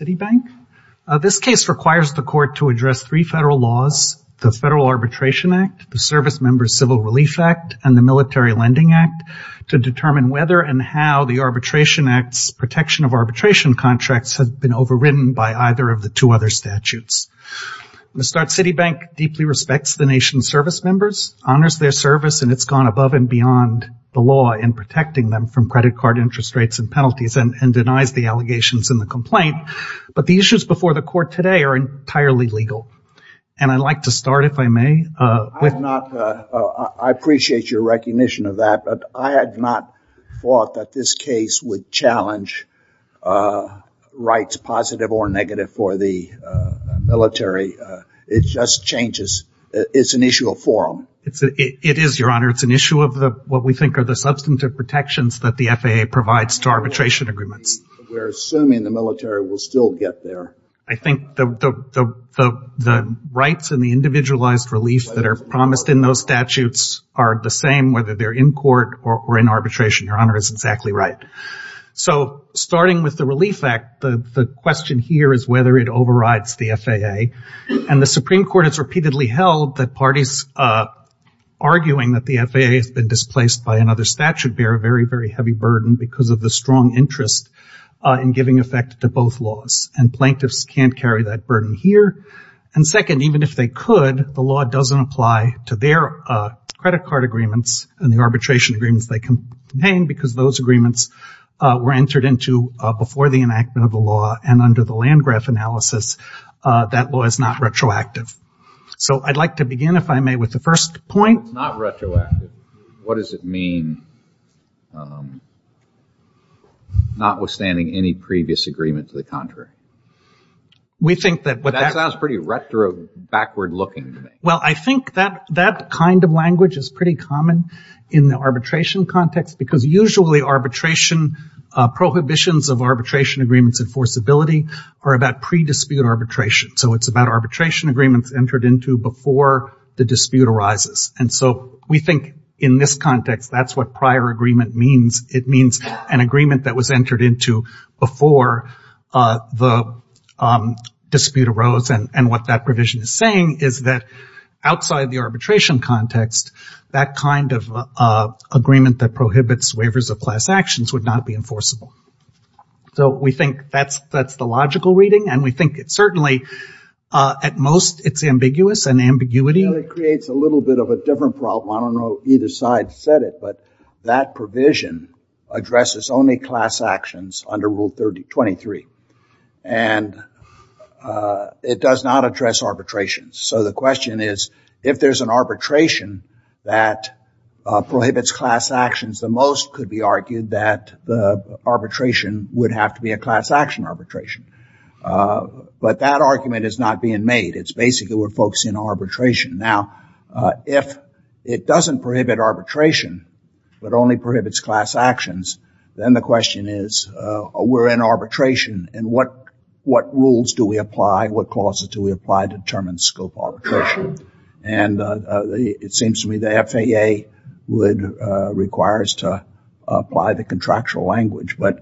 Citibank. This case requires the court to address three federal laws, the Federal Arbitration Act, the Servicemembers Civil Relief Act, and the Military Lending Act, to determine whether and how the Arbitration Act's protection of arbitration contracts has been overridden by either of the two other statutes. The Start Citibank deeply respects the nation's servicemembers, honors their service, and it's gone above and beyond the law in protecting them from credit card interest rates and penalties, and denies the allegations in the complaint. But the issues before the court today are entirely legal. And I'd like to start, if I may, with... I have not... I appreciate your recognition of that, but I had not thought that this case would challenge rights, positive or negative, for the military. It just changes... It's an issue of forum. It is, Your Honor. It's an issue of what we think are the substantive protections that the FAA provides to arbitration agreements. We're assuming the military will still get there. I think the rights and the individualized relief that are promised in those statutes are the same whether they're in court or in arbitration. Your Honor is exactly right. So starting with the Relief Act, the question here is whether it overrides the FAA. And the Supreme Court has repeatedly held that parties arguing that the FAA has been displaced by another statute bear a very, very heavy burden because of the strong interest in giving effect to both laws. And plaintiffs can't carry that burden here. And second, even if they could, the law doesn't apply to their credit card agreements and the arbitration agreements they contain, because those agreements were entered into before the enactment of the law and under the Landgraf analysis. That law is not retroactive. So I'd like to begin, if I may, with the first point... If it's not retroactive, what does it mean, notwithstanding any previous agreement to the contrary? We think that... That sounds pretty retro, backward-looking to me. Well, I think that that kind of language is pretty common in the arbitration context, because usually arbitration prohibitions of arbitration agreements and forcibility are about pre-dispute arbitration. So it's about arbitration agreements entered into before the dispute arises. And so we think in this context, that's what prior agreement means. It means an agreement that was entered into before the dispute arose. And what that provision is saying is that outside the arbitration context, that kind of agreement that prohibits waivers of class actions would not be enforceable. So we think that's the logical reading. And we think it certainly... At most, it's ambiguous, an ambiguity. It creates a little bit of a different problem. I don't know if either side said it, but that provision addresses only class actions under Rule 23. And it does not address arbitration. So the question is, if there's an arbitration that prohibits class actions, the most could be argued that the arbitration would have to be a class action arbitration. But that argument is not being made. It's basically, we're focusing on arbitration. Now, if it doesn't prohibit arbitration, but only prohibits class actions, then the question is, we're in arbitration and what rules do we apply? What clauses do we apply to determine scope arbitration? And it seems to me the FAA would require us to apply the contractual language. But...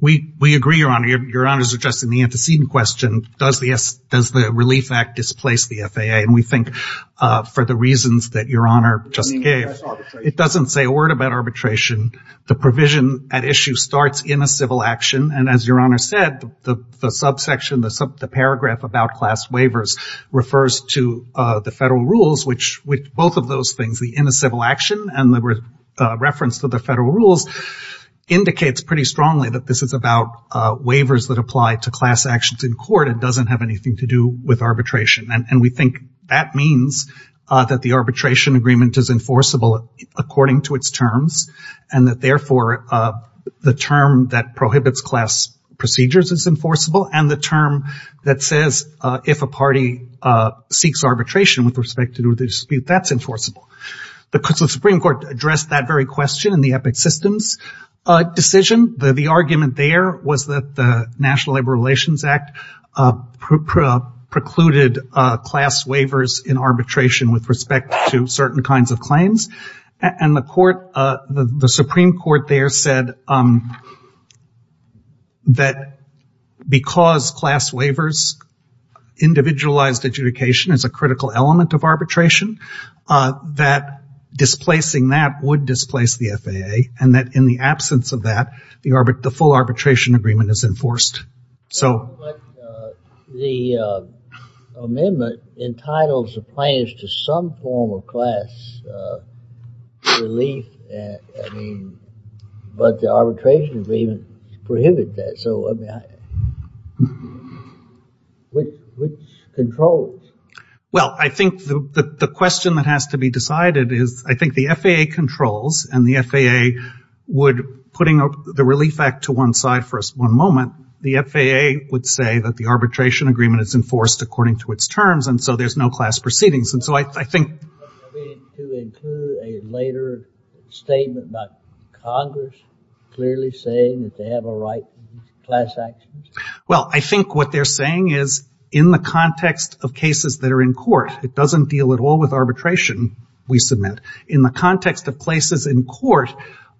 We agree, Your Honor. Your Honor is addressing the antecedent question. Does the Relief Act displace the FAA? And we think for the reasons that Your Honor just gave, it doesn't say a word about arbitration. The provision at issue starts in a civil action. And as Your Honor said, the subsection, the paragraph about class waivers refers to the federal rules. The civil action and the reference to the federal rules indicates pretty strongly that this is about waivers that apply to class actions in court. It doesn't have anything to do with arbitration. And we think that means that the arbitration agreement is enforceable according to its terms. And that, therefore, the term that prohibits class procedures is enforceable. And the term that says if a party seeks arbitration with respect to the dispute, that's enforceable. The Supreme Court addressed that very question in the EPIC systems decision. The argument there was that the National Labor Relations Act precluded class waivers in arbitration with respect to certain kinds of claims. And the Supreme Court there said that because class waivers, individualized adjudication, is a critical element of arbitration, that displacing that would displace the FAA. And that in the absence of that, the full arbitration agreement is enforced. So. The amendment entitles the plaintiffs to some form of class relief. I mean, but the arbitration agreement prohibited that. So, I mean, which controls? Well, I think the question that has to be decided is, I think the FAA controls. And the FAA would, putting the relief act to one side for one moment, the FAA would say that the arbitration agreement is enforced according to its terms. And so there's no class proceedings. And so I think. To include a later statement by Congress clearly saying that they have a right to class actions? Well, I think what they're saying is in the context of cases that are in court, it doesn't deal at all with arbitration we submit. In the context of places in court,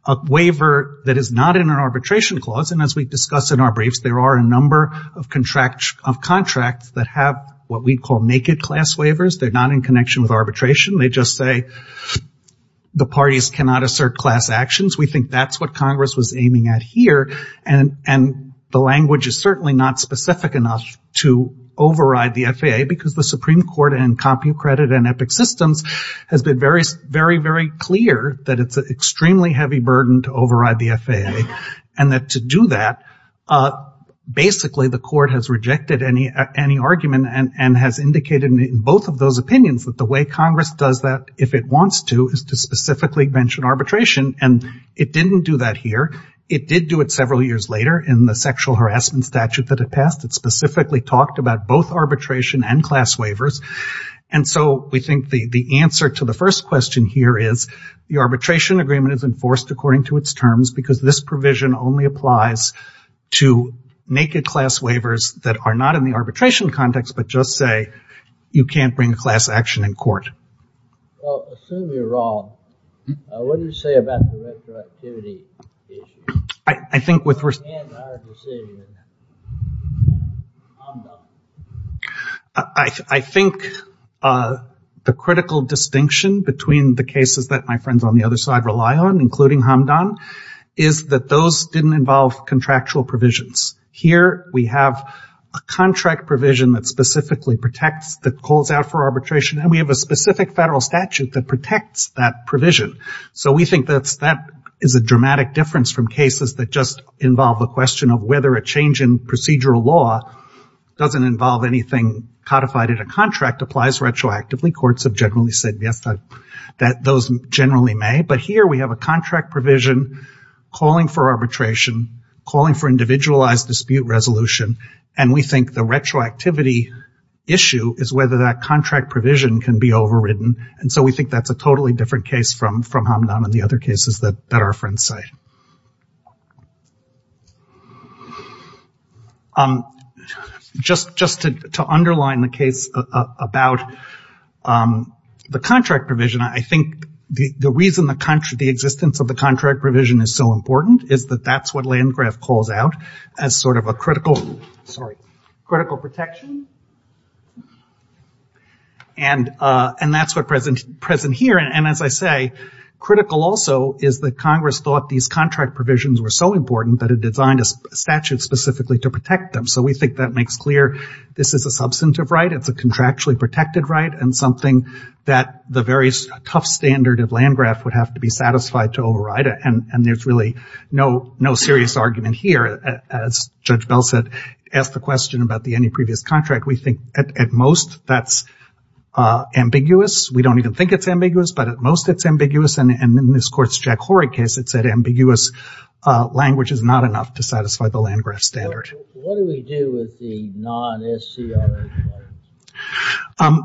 a waiver that is not in an arbitration clause, and as we discuss in our briefs, there are a number of contracts that have what we call naked class waivers. They're not in connection with arbitration. They just say the parties cannot assert class actions. We think that's what Congress was aiming at here. And the language is certainly not specific enough to override the FAA because the Supreme Court and CompuCredit and Epic Systems has been very, very clear that it's an extremely heavy burden to override the FAA. And that to do that, basically the court has rejected any argument and has indicated in both of those opinions that the way Congress does that, if it wants to, is to specifically mention arbitration. And it didn't do that here. It did do it several years later in the sexual harassment statute that it passed. It specifically talked about both arbitration and class waivers. And so we think the answer to the first question here is the arbitration agreement is enforced according to its terms because this provision only applies to naked class waivers that are not in the arbitration context but just say you can't bring class action in court. Assume you're wrong. What do you say about the retroactivity issue? I think the critical distinction between the cases that my friends on the other side rely on, including Hamdan, is that those didn't involve contractual provisions. Here we have a contract provision that specifically protects, that calls out for arbitration, and we have a specific federal statute that protects that provision. So we think that is a dramatic difference from cases that just involve the question of whether a change in procedural law doesn't involve anything codified in a contract applies retroactively. Courts have generally said yes, that those generally may. But here we have a contract provision calling for arbitration, calling for individualized dispute resolution, and we think the retroactivity issue is whether that contract provision can be overridden. And so we think that's a totally different case from Hamdan and the other cases that our friends cite. Just to underline the case about the contract provision, I think the reason the existence of the contract provision is so important is that that's what Landgraf calls out as sort of a critical protection. And that's what's present here. And as I say, critical also is that Congress thought these contract provisions were so important that it designed a statute specifically to protect them. So we think that makes clear this is a substantive right, it's a contractually protected right, and something that the very tough standard of Landgraf would have to be satisfied to override it. And there's really no serious argument here. As Judge Bell said, asked the question about the any previous contract, we think at most that's ambiguous. We don't even think it's ambiguous, but at most it's ambiguous. And in this court's Jack Horrig case, it's that ambiguous language is not enough to satisfy the Landgraf standard. What do we do with the non-SCR?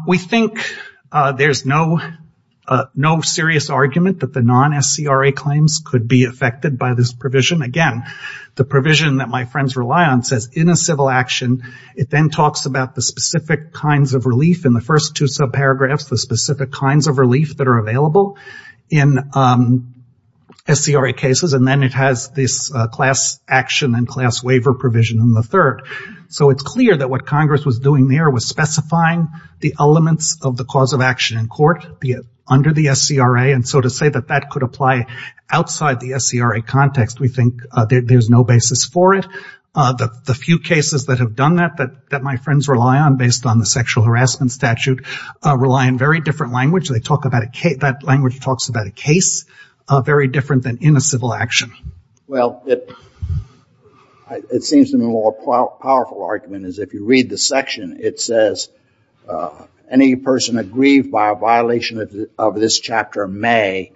We think there's no serious argument that the non-SCR claims could be affected by this provision. Again, the provision that my friends rely on says in a civil action, it then talks about the specific kinds of relief in the first two subparagraphs, the specific kinds of relief that are available in SCRA cases, and then it has this class action and class action there with specifying the elements of the cause of action in court under the SCRA. And so to say that that could apply outside the SCRA context, we think there's no basis for it. The few cases that have done that, that my friends rely on based on the sexual harassment statute, rely on very different language. They talk about a case, that language talks about a case very different than in a civil action. Well, it seems to me a more powerful argument is if you read the section, it says any person aggrieved by a violation of this chapter may,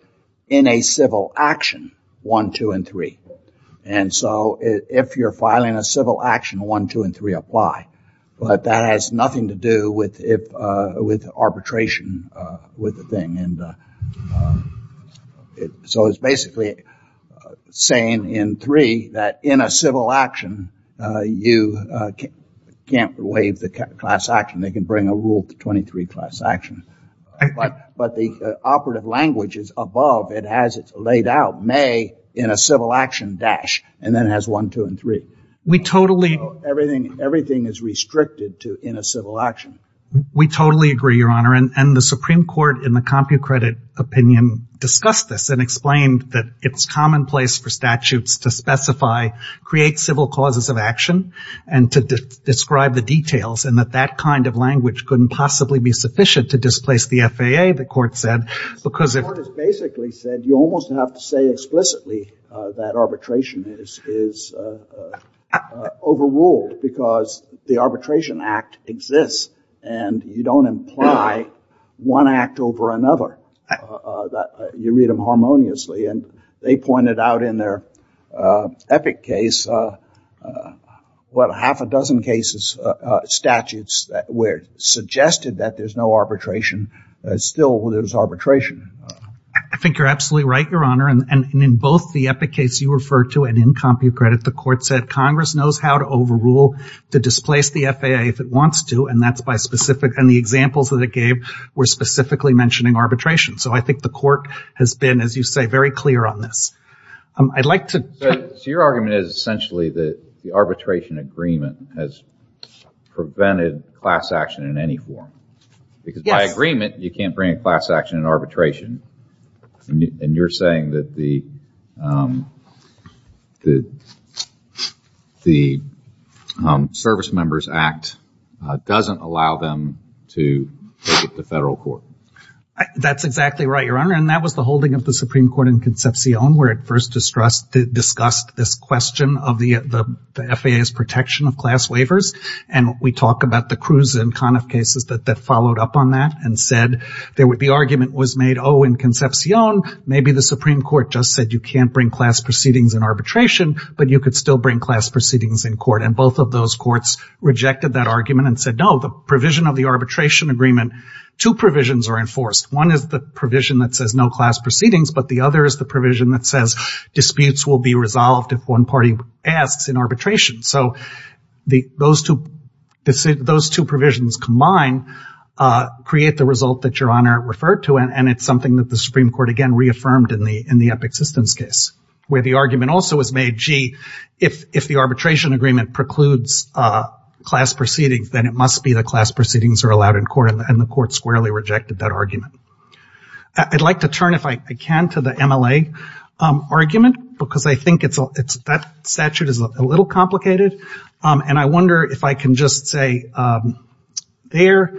in a civil action, one, two, and three. And so if you're filing a civil action, one, two, and three apply. But that has nothing to do with arbitration with the thing. And so it's basically saying in three that in a civil action, you can't waive the class action. They can bring a rule to 23 class action. But the operative language is above. It has it laid out, may in a civil action dash, and then it has one, two, and three. Everything is restricted to in a civil action. We totally agree, Your Honor. And the Supreme Court in the CompuCredit opinion discussed this and explained that it's commonplace for statutes to specify, create civil causes of action and to describe the details, and that that kind of language couldn't possibly be sufficient to displace the FAA, the court said, because it The court has basically said you almost have to say explicitly that arbitration is overruled because the arbitration act exists, and you don't imply one act over another. You read them harmoniously, and they pointed out in their epic case, what, half a dozen cases, statutes that were suggested that there's no arbitration. Still, there's arbitration. I think you're absolutely right, Your Honor. And in both the epic case you referred to and in CompuCredit, the court said, Congress knows how to overrule, to displace the FAA if it wants to, and that's by specific, and the examples that it gave were specifically mentioning arbitration. So I think the court has been, as you say, very clear on this. I'd like to So your argument is essentially that the arbitration agreement has prevented class action in any form, because by agreement, you can't bring class action in arbitration. And you're saying that the Service Members Act doesn't allow them to take it to federal court. That's exactly right, Your Honor, and that was the holding of the Supreme Court in Concepcion, where it first discussed this question of the FAA's protection of class waivers, and we talk about the Cruz and Conniff cases that followed up on that and said there would be argument was made, oh, in Concepcion, maybe the Supreme Court just said you can't bring class proceedings in arbitration, but you could still bring class proceedings in court, and both of those courts rejected that argument and said, no, the provision of the arbitration agreement, two provisions are enforced. One is the provision that says no class proceedings, but the other is the provision that says disputes will be resolved if one party asks in arbitration. So those two provisions combine, and that create the result that Your Honor referred to, and it's something that the Supreme Court again reaffirmed in the Epic Systems case, where the argument also was made, gee, if the arbitration agreement precludes class proceedings, then it must be that class proceedings are allowed in court, and the court squarely rejected that argument. I'd like to turn, if I can, to the MLA argument, because I think that statute is a little complicated, and I wonder if I can just say there,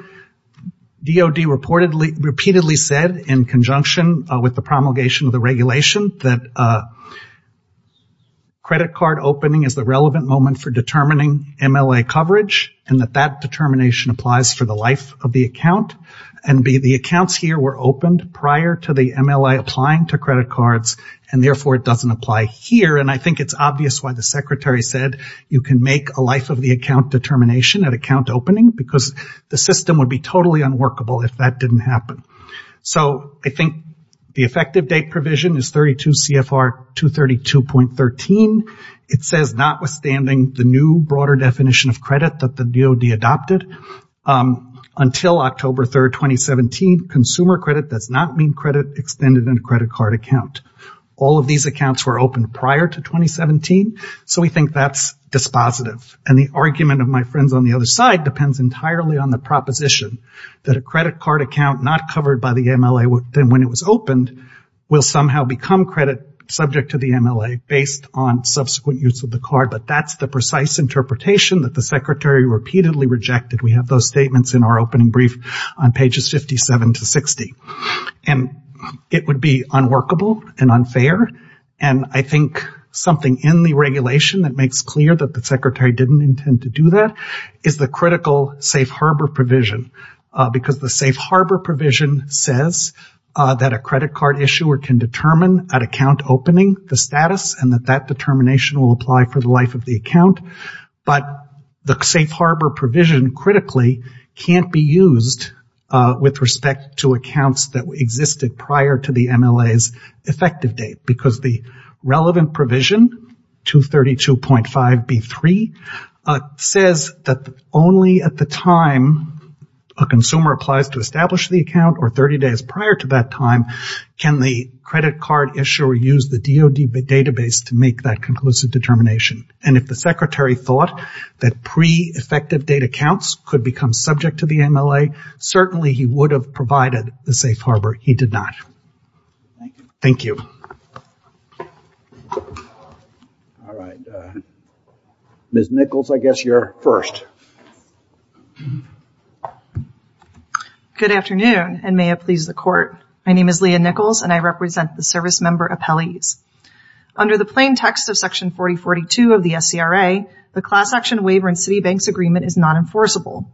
DOD reportedly, repeatedly said in conjunction with the promulgation of the regulation that credit card opening is the relevant moment for determining MLA coverage, and that that determination applies for the life of the account, and the accounts here were opened prior to the MLA applying to credit cards, and therefore it doesn't apply here, and I think it's obvious why the Secretary said you can make a life of the account determination at account opening, because the system would be totally unworkable if that didn't happen. So I think the effective date provision is 32 CFR 232.13. It says notwithstanding the new broader definition of credit that the DOD adopted, until October 3, 2017, consumer credit does not mean credit extended in a credit card account. All of these accounts were opened prior to 2017, so we think that's dispositive, and the argument of my friends on the other side depends entirely on the proposition that a credit card account not covered by the MLA when it was opened will somehow become credit subject to the MLA based on subsequent use of the card, but that's the precise interpretation that the Secretary repeatedly rejected. We have those statements in our opening brief on pages 57 to 60, and it would be unworkable and unfair, and I think something in the regulation that makes clear that the Secretary didn't intend to do that is the critical safe harbor provision, because the safe harbor provision says that a credit card issuer can determine at account opening the status and that that determination will apply for the life of the account, but the safe harbor provision critically can't be used with respect to accounts that existed prior to the MLA's effective date, because the relevant provision, 232.5B3, says that only at the time a consumer applies to establish the account or 30 days prior to that time can the credit card issuer use the DOD database to make that conclusive determination, and if the Secretary thought that pre-effective date accounts could become subject to the MLA, certainly he would have provided the safe harbor. He did not. Thank you. Ms. Nichols, I guess you're first. Good afternoon, and may it please the Court. My name is Leah Nichols, and I represent the Service Member Appellees. Under the plain text of Section 4042 of the SCRA, the class action waiver in Citibank's agreement is not enforceable,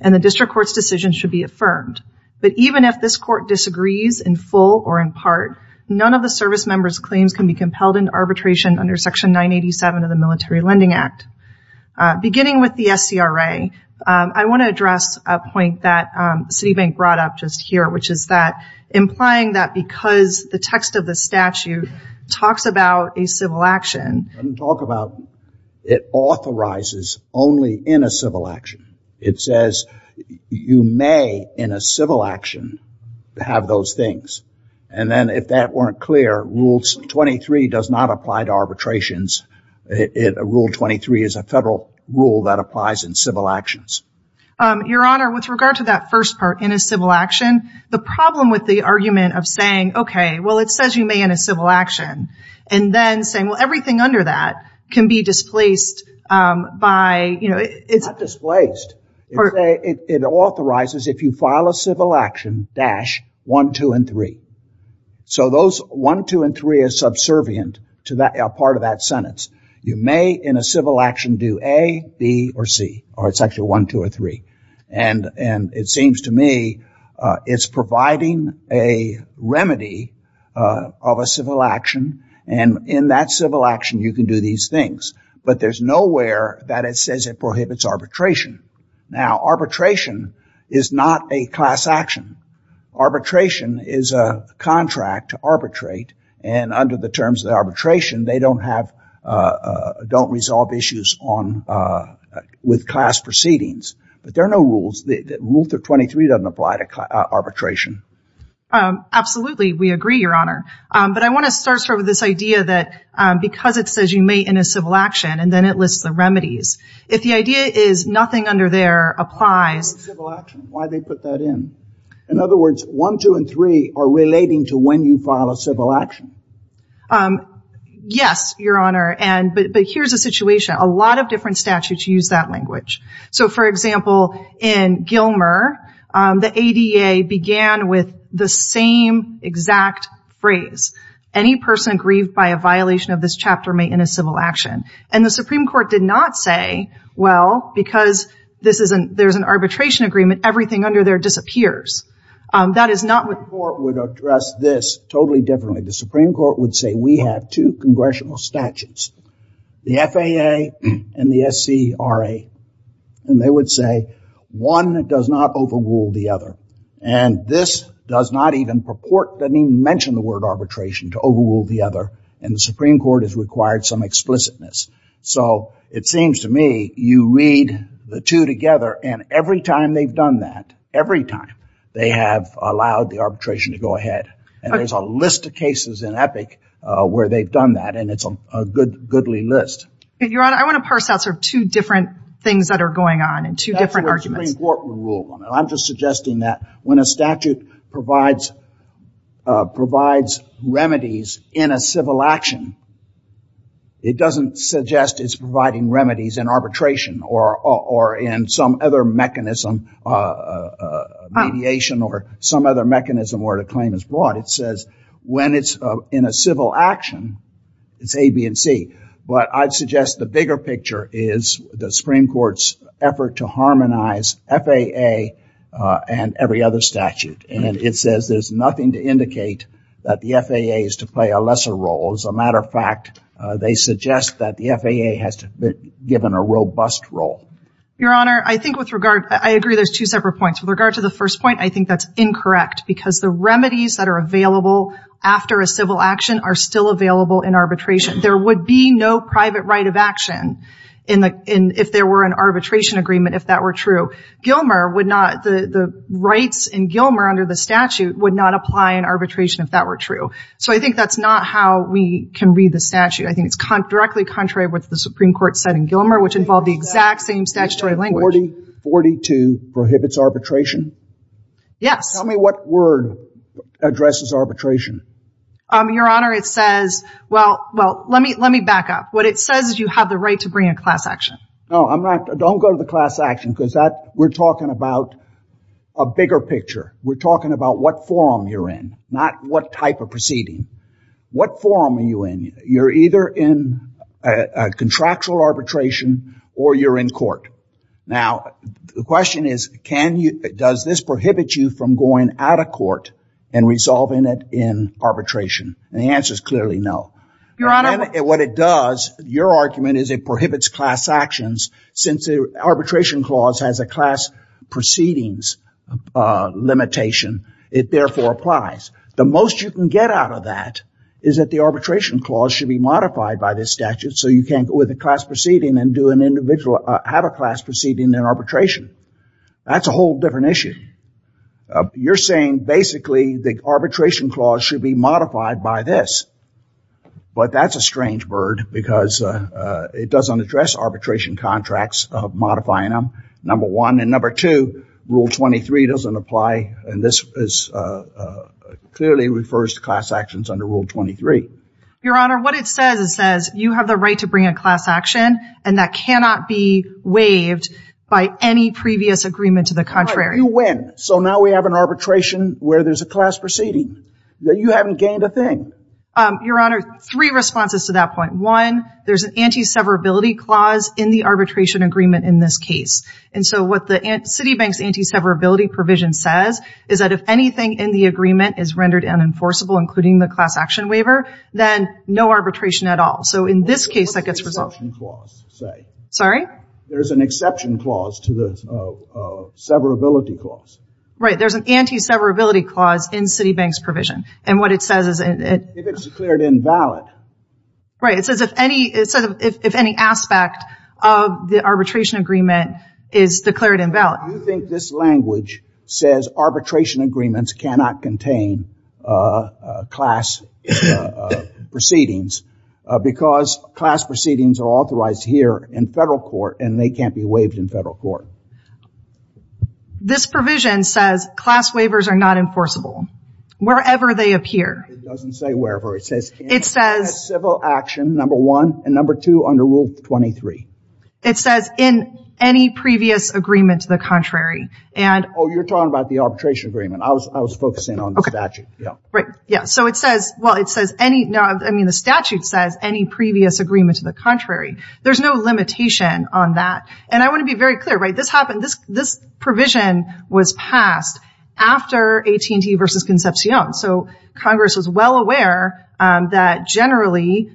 and the District Court's decision should be affirmed, but even if this Court disagrees in full or in part, none of the Service Member's claims can be compelled into arbitration under Section 987 of the Military Lending Act. Beginning with the SCRA, I want to address a point that Citibank brought up just here, which is that, implying that because the text of the statute talks about a civil action. It doesn't talk about, it authorizes only in a civil action. It says you may, in a civil action, have those things, and then if that weren't clear, Rule 23 does not apply to arbitrations. Rule 23 is a federal rule that applies in civil actions. Your Honor, with regard to that first part, in a civil action, the problem with the argument of saying, okay, well, it says you may in a civil action, and then saying, well, everything under that can be displaced by, you know, it's Not displaced. It authorizes, if you file a civil action, dash, one, two, and three. So those one, two, and three are subservient to that part of that sentence. You may, in a civil action, do A, B, or C, or it's actually one, two, or three. And it seems to me it's providing a remedy of a civil action, and in that civil action, you can do these things. But there's nowhere that it says it prohibits arbitration. Now, arbitration is not a class action. Arbitration is a contract to arbitrate, and under the terms of the arbitration, they don't have, don't resolve issues on, with class proceedings. But there are no rules. Rule 323 doesn't apply to arbitration. Absolutely. We agree, Your Honor. But I want to start with this idea that because it says you may in a civil action, and then it lists the remedies. If the idea is nothing under there applies Why do they put that in? In other words, one, two, and three are relating to when you file a civil action. Yes, Your Honor. But here's a situation. A lot of different statutes use that language. So for example, in Gilmer, the ADA began with the same exact phrase. Any person grieved by a violation of this chapter may in a civil action. And the Supreme Court did not say, well, because there's an arbitration agreement, everything under there disappears. That is not what The Supreme Court would address this totally differently. The Supreme Court would say we have two congressional statutes, the FAA and the SCRA, and they would say one does not overrule the other. And this does not even purport, doesn't even mention the word arbitration to overrule the other, and the Supreme Court has required some explicitness. So it seems to me you read the two together, and every time they've done that, every time they have allowed the arbitration to go ahead. And there's a list of cases in EPIC where they've done that, and it's a goodly list. Your Honor, I want to parse out sort of two different things that are going on and two different arguments. That's what the Supreme Court would rule on. I'm just suggesting that when a statute provides remedies in a civil action, it doesn't suggest it's providing remedies in arbitration or in some other mechanism, mediation or some other mechanism where the claim is brought. It says when it's in a civil action, it's A, B, and C. But I'd suggest the bigger picture is the Supreme Court's effort to harmonize FAA and every other statute. And it says there's nothing to indicate that the FAA is to play a lesser role. As a matter of fact, they suggest that the FAA has been given a robust role. Your Honor, I agree there's two separate points. With regard to the first point, I think that's incorrect because the remedies that are available after a civil action are still available in arbitration. There would be no private right of action if there were an arbitration agreement if that were true. The rights in Gilmer under the statute would not apply in arbitration if that were true. So I think that's not how we can read the statute. I think it's directly contrary to what the Supreme Court said in Gilmer, which involved the exact same statutory language. 4042 prohibits arbitration? Yes. Tell me what word addresses arbitration. Your Honor, it says, well, let me back up. What it says is you have the right to bring a class action. No, don't go to the class action because we're talking about a bigger picture. We're talking about what forum you're in, not what type of proceeding. What forum are you in? You're either in a contractual arbitration or you're in court. Now, the question is, can you, does this prohibit you from going out of court and resolving it in arbitration? And the answer is clearly no. Your Honor. What it does, your argument is it prohibits class actions since the arbitration clause has a class proceedings limitation. It therefore applies. The most you can get out of that is that the arbitration clause should be modified by this statute so you can't go with a class proceeding and do an individual, have a class proceeding in arbitration. That's a whole different issue. You're saying basically the arbitration clause should be modified by this. But that's a strange bird because it doesn't address arbitration contracts, modifying them, number one. And number two, Rule 23 doesn't apply. And this clearly refers to class actions under Rule 23. Your Honor, what it says, it says you have the right to bring a class action and that cannot be waived by any previous agreement to the contrary. You win. So now we have an arbitration where there's a class proceeding. You haven't gained a thing. Your Honor, three responses to that point. One, there's an anti-severability clause in the arbitration agreement in this case. And so what the Citibank's anti-severability provision says is that if anything in the agreement is rendered unenforceable, including the class action waiver, then no arbitration at all. So in this case, that gets resolved. What does the exception clause say? Sorry? There's an exception clause to the severability clause. Right. There's an anti-severability clause in Citibank's provision. And what it says is it If it's declared invalid. Right. It says if any, it says if any aspect of the arbitration agreement is declared invalid. Why do you think this language says arbitration agreements cannot contain class proceedings? Because class proceedings are authorized here in federal court and they can't be waived in federal court. This provision says class waivers are not enforceable wherever they appear. It doesn't say wherever. It says It says It says civil action, number one. And number two, under Rule 23. It says in any previous agreement to the contrary. Oh, you're talking about the arbitration agreement. I was focusing on the statute. Right. Yeah. So it says, well, it says any, I mean, the statute says any previous agreement to the contrary. There's no limitation on that. And I want to be very clear, right? This happened, this provision was passed after AT&T versus Concepcion. So Congress was well aware that generally,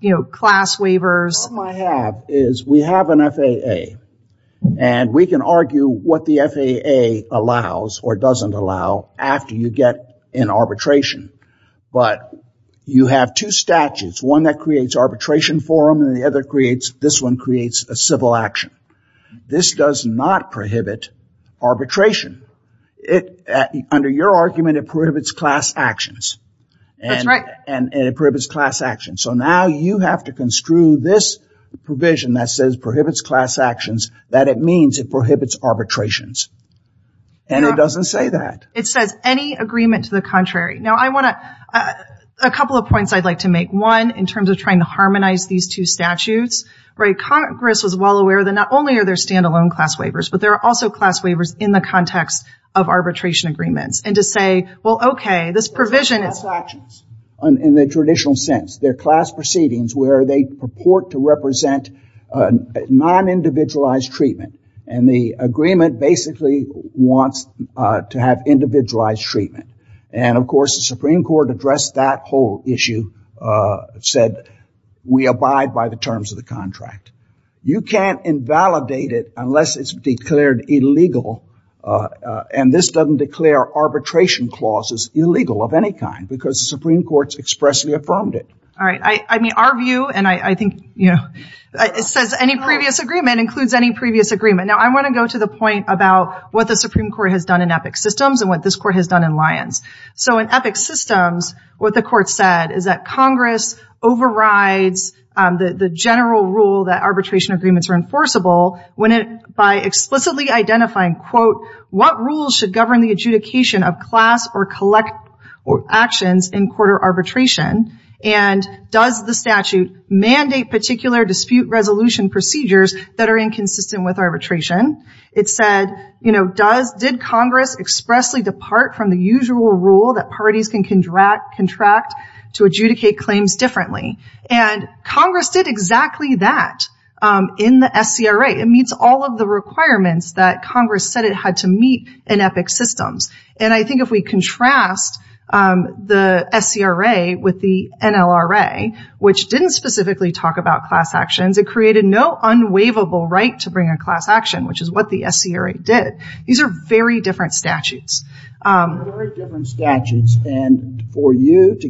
you know, class waivers What I have is we have an FAA and we can argue what the FAA allows or doesn't allow after you get in arbitration. But you have two statutes, one that creates arbitration forum and the other creates, this one creates a civil action. This does not prohibit arbitration. It, under your argument, it prohibits class actions and it prohibits class action. So now you have to construe this provision that says prohibits class actions, that it means it prohibits arbitrations. And it doesn't say that. It says any agreement to the contrary. Now I want to, a couple of points I'd like to make. One, in terms of trying to harmonize these two statutes, right? Congress was well aware that not only are there standalone class waivers, but there are also class waivers in the context of arbitration agreements. And to say, well, okay, this provision is class actions in the traditional sense. They're class proceedings where they purport to represent non-individualized treatment. And the agreement basically wants to have individualized treatment. And of course, the Supreme Court addressed that whole issue, said, we abide by the terms of the contract. You can't invalidate it unless it's declared illegal. And this doesn't declare arbitration clauses illegal of any kind because the Supreme Court's expressly affirmed it. All right. I mean, our view, and I think, you know, it says any previous agreement includes any previous agreement. Now I want to go to the point about what the Supreme Court has done in Epic Systems and what this court has done in Lyons. So in Epic Systems, what the court said is that Congress overrides the general rule that arbitration agreements are enforceable when it, by explicitly identifying, quote, what rules should govern the adjudication of class or collect actions in court or arbitration? And does the statute mandate particular dispute resolution procedures that are inconsistent with arbitration? It said, you know, does, did Congress expressly depart from the usual rule that parties can contract to adjudicate claims differently? And Congress did exactly that in the SCRA. It meets all of the requirements that Congress said it had to meet in Epic Systems. And I think if we contrast the SCRA with the NLRA, which didn't specifically talk about class actions, it created no unwaivable right to bring a class action, which is what the SCRA did. These are very different statutes. Very different statutes. And for you to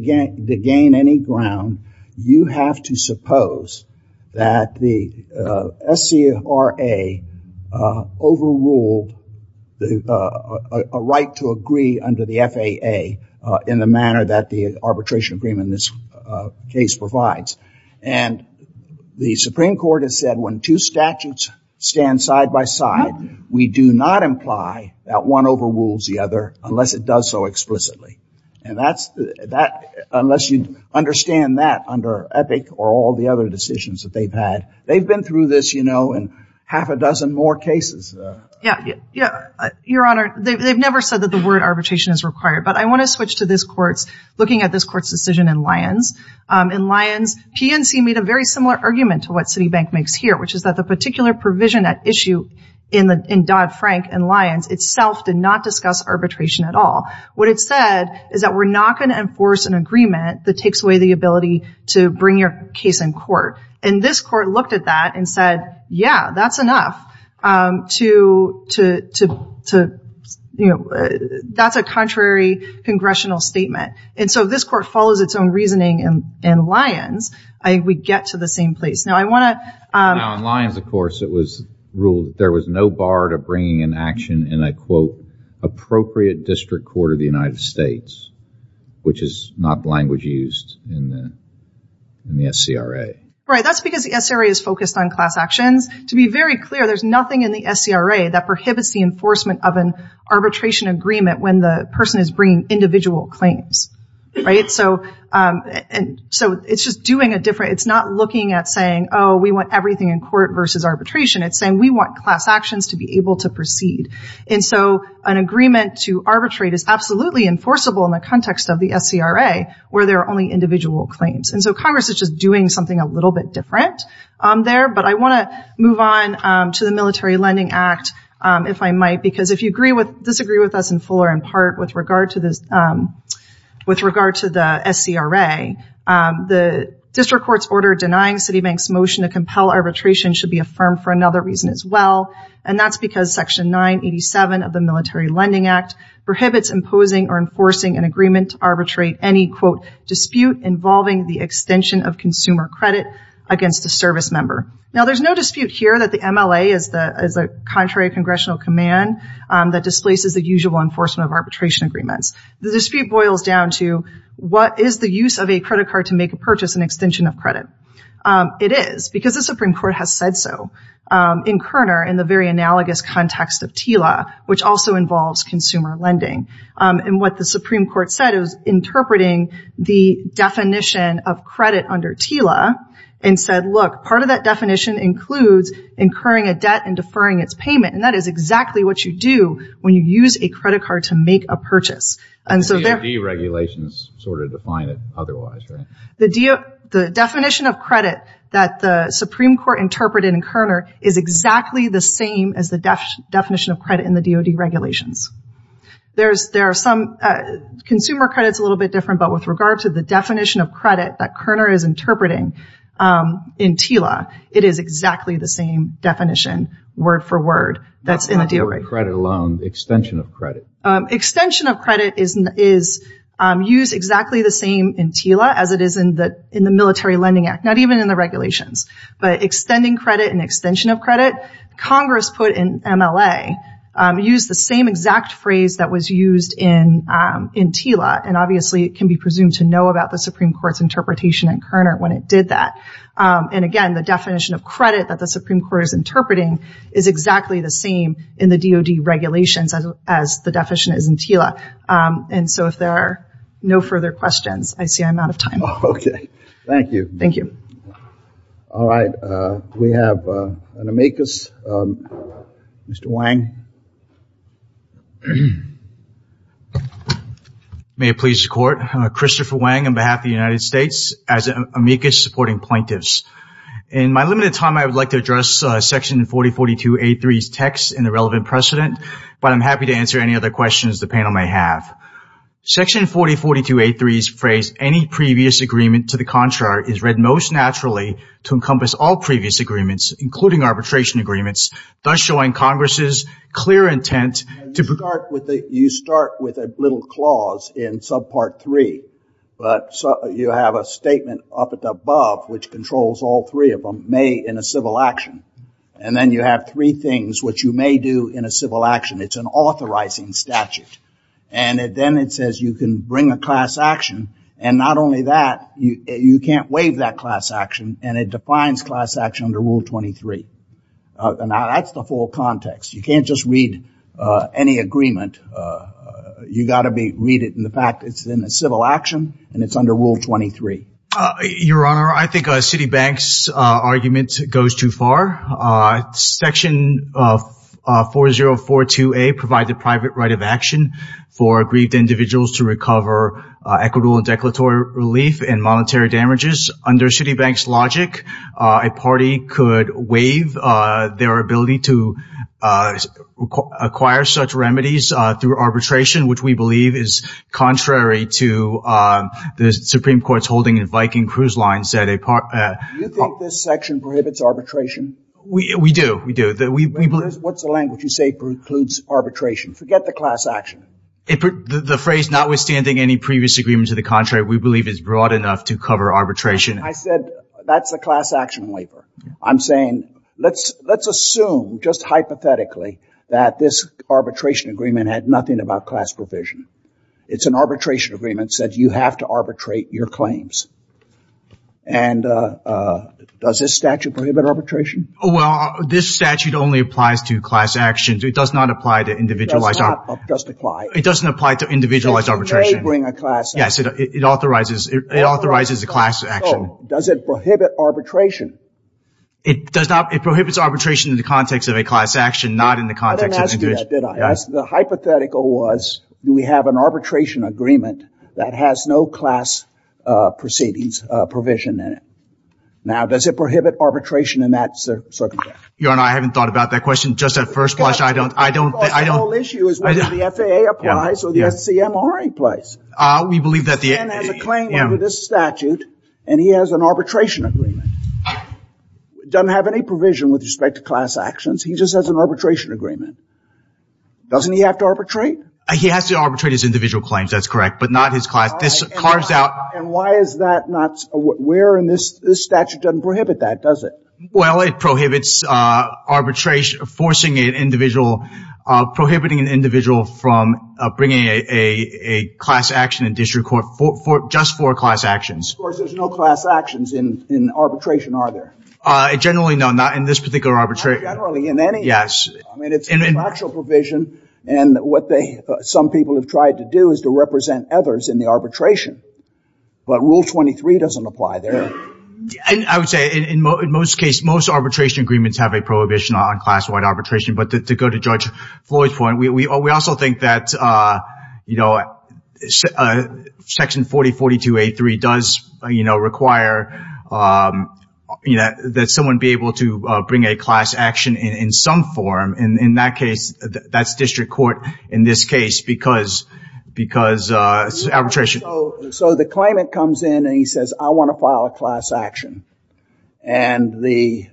gain any ground, you have to suppose that the SCRA overruled a right to agree under the FAA in the manner that the arbitration agreement in this case provides. And the Supreme Court has said when two statutes stand side by side, we do not imply that one overrules the other unless it does so explicitly. And that's, unless you understand that under Epic or all the other decisions that they've had. They've been through this, you know, in half a dozen more cases. Yeah. Yeah. Your Honor, they've never said that the word arbitration is required, but I want to switch to this court's, looking at this court's decision in Lyons. In Lyons, PNC made a very similar argument to what Citibank makes here, which is that the particular provision at issue in Dodd-Frank in Lyons itself did not discuss arbitration at all. What it said is that we're not going to enforce an agreement that takes away the ability to bring your case in court. And this court looked at that and said, yeah, that's enough to, you know, that's a contrary congressional statement. And so this court follows its own reasoning in Lyons. I, we get to the same place. Now I want to. Now in Lyons, of course, it was ruled that there was no bar to bringing an action in a quote, appropriate district court of the United States, which is not language used in the, in the SCRA. Right. That's because the SCRA is focused on class actions. To be very clear, there's nothing in the SCRA that prohibits the enforcement of an arbitration agreement when the person is bringing individual claims. Right. So and so it's just doing a different, it's not looking at saying, oh, we want everything in court versus arbitration. It's saying we want class actions to be able to proceed. And so an agreement to arbitrate is absolutely enforceable in the context of the SCRA where there are only individual claims. And so Congress is just doing something a little bit different there. But I want to move on to the Military Lending Act if I might, because if you agree with, disagree with us in full or in part with regard to this, with regard to the SCRA, the district court's order denying Citibank's motion to compel arbitration should be affirmed for another reason as well. And that's because Section 987 of the Military Lending Act prohibits imposing or enforcing an agreement to arbitrate any quote, dispute involving the extension of consumer credit against the service member. Now there's no dispute here that the MLA is the contrary congressional command that displaces the usual enforcement of arbitration agreements. The dispute boils down to what is the use of a credit card to make a purchase and extension of credit? It is because the Supreme Court has said so in Kerner in the very analogous context of TILA, which also involves consumer lending. And what the Supreme Court said is interpreting the definition of credit under TILA and said, look, part of that definition includes incurring a debt and deferring its payment. And that is exactly what you do when you use a credit card to make a purchase. And so they're- The DOD regulations sort of define it otherwise, right? The definition of credit that the Supreme Court interpreted in Kerner is exactly the same as the definition of credit in the DOD regulations. There are some consumer credits a little bit different, but with regard to the definition of credit that Kerner is interpreting in TILA, it is exactly the same definition, word for word, that's in the DOD regulations. Not credit alone, extension of credit. Extension of credit is used exactly the same in TILA as it is in the Military Lending Act, not even in the regulations. But extending credit and extension of credit, Congress put in MLA, used the same exact phrase that was used in TILA. And obviously it can be presumed to know about the Supreme Court's interpretation in Kerner when it did that. And again, the definition of credit that the Supreme Court is interpreting is exactly the same in the DOD regulations as the definition is in TILA. And so if there are no further questions, I see I'm out of time. Thank you. Thank you. All right. We have an amicus. Mr. Wang. May it please the Court. Christopher Wang on behalf of the United States as an amicus supporting plaintiffs. In my limited time, I would like to address section 4042A3's text in the relevant precedent, but I'm happy to answer any other questions the panel may have. Section 4042A3's phrase, any previous agreement to the contrary, is read most naturally to encompass all previous agreements, including arbitration agreements, thus showing Congress's clear intent to... You start with a little clause in subpart three, but you have a statement up above which controls all three of them, may in a civil action. And then you have three things which you may do in a civil action. It's an authorizing statute. And then it says you can bring a class action, and not only that, you can't waive that class action, and it defines class action under Rule 23. And that's the full context. You can't just read any agreement. You got to read it in the fact it's in a civil action, and it's under Rule 23. Your Honor, I think Citibank's argument goes too far. Section 4042A provides a private right of action for aggrieved individuals to recover equitable and declaratory relief and monetary damages. Under Citibank's logic, a party could waive their ability to acquire such remedies through arbitration, which we believe is contrary to the Supreme Court's ruling in Viking Cruise Line, said a part... You think this section prohibits arbitration? We do. We do. What's the language you say precludes arbitration? Forget the class action. The phrase, notwithstanding any previous agreement to the contrary, we believe is broad enough to cover arbitration. I said that's a class action waiver. I'm saying let's assume, just hypothetically, that this arbitration agreement had nothing about class provision. It's an arbitration agreement that you have to arbitrate your claims. And does this statute prohibit arbitration? Well, this statute only applies to class actions. It does not apply to individualized... It does not just apply. It doesn't apply to individualized arbitration. It may bring a class action. Yes, it authorizes a class action. Does it prohibit arbitration? It does not. It prohibits arbitration in the context of a class action, not in the context of an individual. The hypothetical was, do we have an arbitration agreement that has no class proceedings provision in it? Now, does it prohibit arbitration in that circumstance? Your Honor, I haven't thought about that question just at first blush. I don't... The whole issue is whether the FAA applies or the SCMRA applies. We believe that the... This man has a claim under this statute and he has an arbitration agreement. Doesn't have any provision with respect to class actions. He just has an arbitration agreement. Doesn't he have to arbitrate? He has to arbitrate his individual claims. That's correct, but not his class. This carves out... And why is that not... Where in this statute doesn't prohibit that, does it? Well, it prohibits arbitration... Forcing an individual... Prohibiting an individual from bringing a class action in district court just for class actions. Of course, there's no class actions in arbitration, are there? Generally, no. Not in this particular arbitration. Not generally in any... Yes. I mean, it's a factual provision. And what some people have tried to do is to represent others in the arbitration. But Rule 23 doesn't apply there. I would say in most cases, most arbitration agreements have a prohibition on class-wide arbitration. But to go to Judge Floyd's point, we also think that Section 4042A3 does require that someone be able to bring a class action in some form. In that case, that's district court in this case because arbitration... So the claimant comes in and he says, I want to file a class action. And the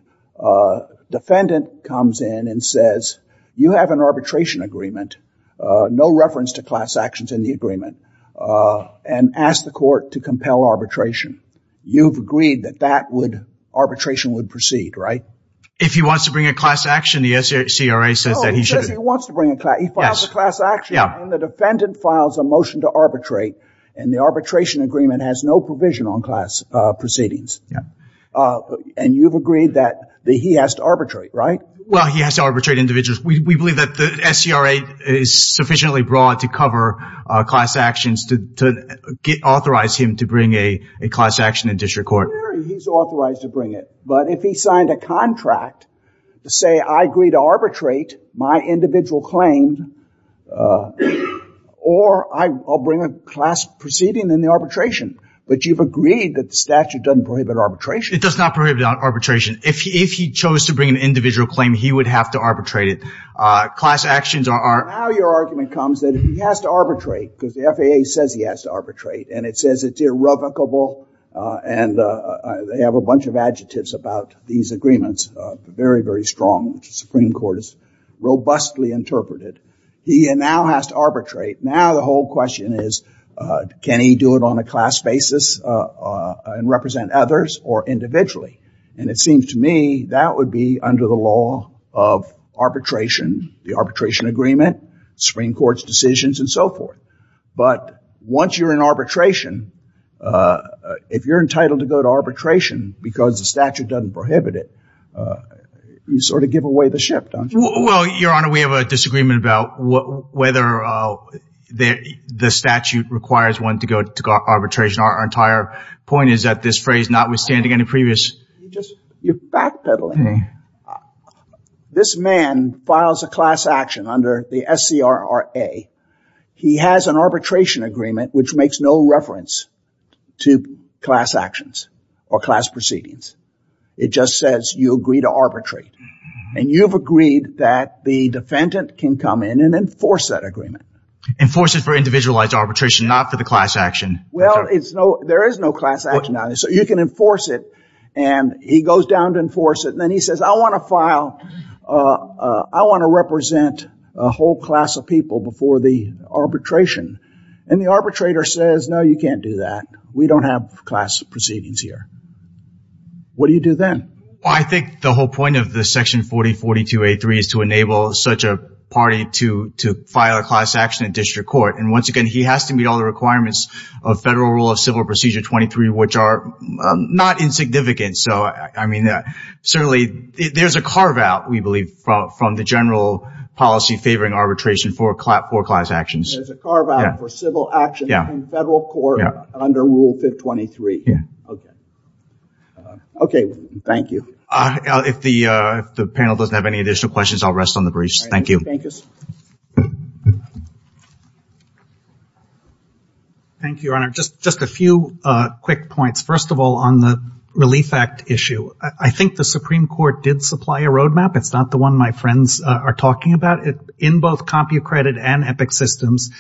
defendant comes in and says, you have an arbitration agreement, no reference to class actions in the agreement, and ask the court to compel arbitration. You've agreed that that would proceed, right? If he wants to bring a class action, the SCRA says that he should... No, he says he wants to bring a class action. He files a class action and the defendant files a motion to arbitrate. And the arbitration agreement has no provision on class proceedings. And you've agreed that he has to arbitrate, right? Well, he has to arbitrate individuals. We believe that the SCRA is sufficiently broad to cover class actions to authorize him to bring a class action in district court. He's authorized to bring it. But if he signed a contract to say, I agree to arbitrate my individual claim or I'll bring a class proceeding in the arbitration, but you've agreed that the statute doesn't prohibit arbitration. It does not prohibit arbitration. If he chose to bring an individual claim, he would have to arbitrate it. Class actions are... Now your argument comes that he has to arbitrate because the FAA says he has to arbitrate and says it's irrevocable. And they have a bunch of adjectives about these agreements, very, very strong, which the Supreme Court has robustly interpreted. He now has to arbitrate. Now the whole question is, can he do it on a class basis and represent others or individually? And it seems to me that would be under the law of arbitration, the arbitration agreement, Supreme Court's decisions and so forth. But once you're in arbitration, if you're entitled to go to arbitration because the statute doesn't prohibit it, you sort of give away the ship, don't you? Well, Your Honor, we have a disagreement about whether the statute requires one to go to arbitration. Our entire point is that this phrase notwithstanding any previous... You're backpedaling. This man files a class action under the SCRRA. He has an arbitration agreement which makes no reference to class actions or class proceedings. It just says you agree to arbitrate. And you've agreed that the defendant can come in and enforce that agreement. Enforce it for individualized arbitration, not for the class action. Well, there is no class action on it. So you can enforce it. And he goes down to enforce it. And then he says, I want to file... I want to represent a whole class of people before the arbitration. And the arbitrator says, no, you can't do that. We don't have class proceedings here. What do you do then? I think the whole point of the section 4042A3 is to enable such a party to file a class action in district court. And once again, he has to meet all the requirements of Federal Rule of Civil Procedure 23, which are not insignificant. So, I mean, certainly there's a carve out, we believe, from the general policy favoring arbitration for class actions. There's a carve out for civil action in federal court under Rule 523. Yeah. Okay. Okay. Thank you. If the panel doesn't have any additional questions, I'll rest on the briefs. Thank you. Thank you, Your Honor. Just a few quick points. First of all, on the Relief Act issue. I think the Supreme Court did supply a roadmap. It's not the one my friends are talking about. In both CompuCredit and Epic Systems,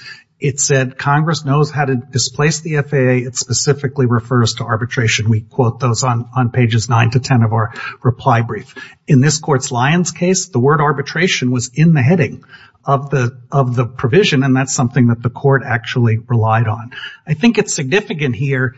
it said Congress knows how to displace the FAA. It specifically refers to arbitration. We quote those on pages 9 to 10 of our reply brief. In this court's Lyons case, the word arbitration was in the heading of the provision, and that's something that the court actually relied on. I think it's significant here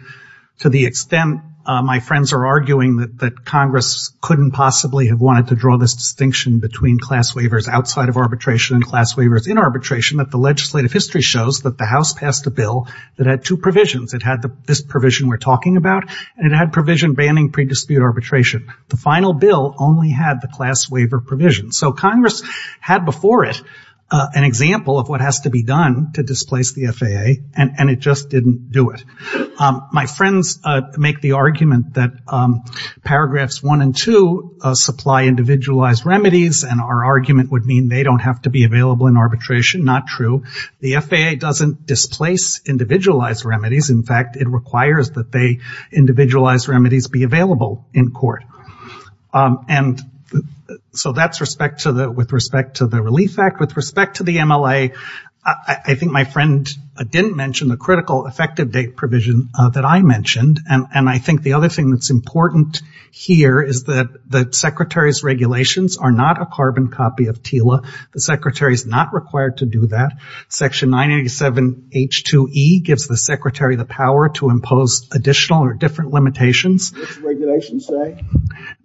to the extent my friends are arguing that Congress couldn't possibly have wanted to draw this distinction between class waivers outside of arbitration and class waivers in arbitration, that the legislative history shows that the House passed a bill that had two provisions. It had this provision we're talking about, and it had banning pre-dispute arbitration. The final bill only had the class waiver provision. So Congress had before it an example of what has to be done to displace the FAA, and it just didn't do it. My friends make the argument that paragraphs 1 and 2 supply individualized remedies, and our argument would mean they don't have to be available in arbitration. Not true. The FAA doesn't displace individualized remedies. In fact, it requires that they individualized remedies be available in court. So that's with respect to the Relief Act. With respect to the MLA, I think my friend didn't mention the critical effective date provision that I mentioned, and I think the other thing that's important here is that the Secretary's regulations are not a carbon copy of TILA. The Secretary's not required to do that. Section 987H2E gives the Secretary the power to impose additional or different limitations. The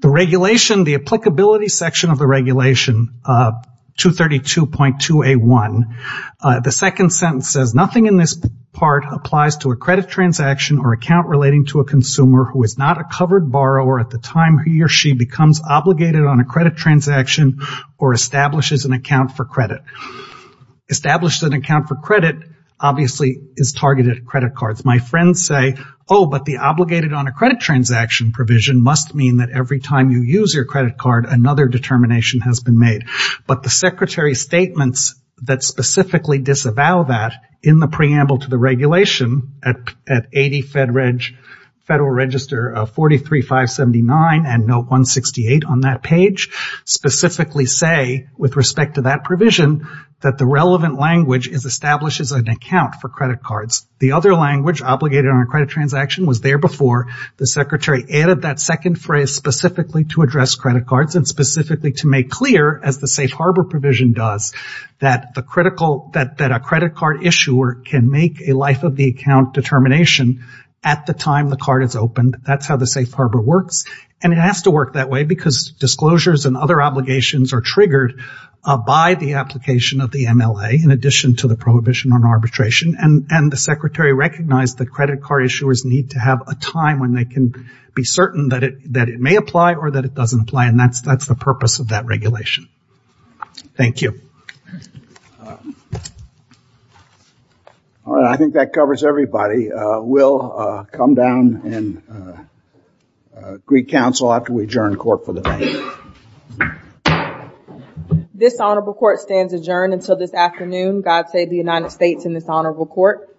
regulation, the applicability section of the regulation, 232.2A1, the second sentence says nothing in this part applies to a credit transaction or account relating to a consumer who is not a covered borrower at the time he or she becomes obligated on a credit transaction or establishes an account for credit. Established an account for credit, obviously, is targeted at credit cards. My friends say, oh, but the obligated on a credit transaction provision must mean that every time you use your credit card, another determination has been made. But the Secretary's statements that specifically disavow that in the preamble to the regulation at 80 Federal Register of 43579 and note 168 on that page, specifically say, with respect to that provision, that the relevant language is establishes an account for credit cards. The other language, obligated on a credit transaction, was there before the Secretary added that second phrase specifically to address credit cards and specifically to make clear, as the safe harbor provision does, that a credit card issuer can make a life of the account determination at the time the card is opened. That's how the safe harbor works. And it has to work that way because disclosures and other obligations are triggered by the application of the MLA in addition to the prohibition on arbitration. And the Secretary recognized that credit card issuers need to have a time when they can be certain that it may apply or that it may not apply. And that's the purpose of that regulation. Thank you. All right. I think that covers everybody. We'll come down and Greek Council after we adjourn court for the day. This honorable court stands adjourned until this afternoon. God save the United States in this honorable court.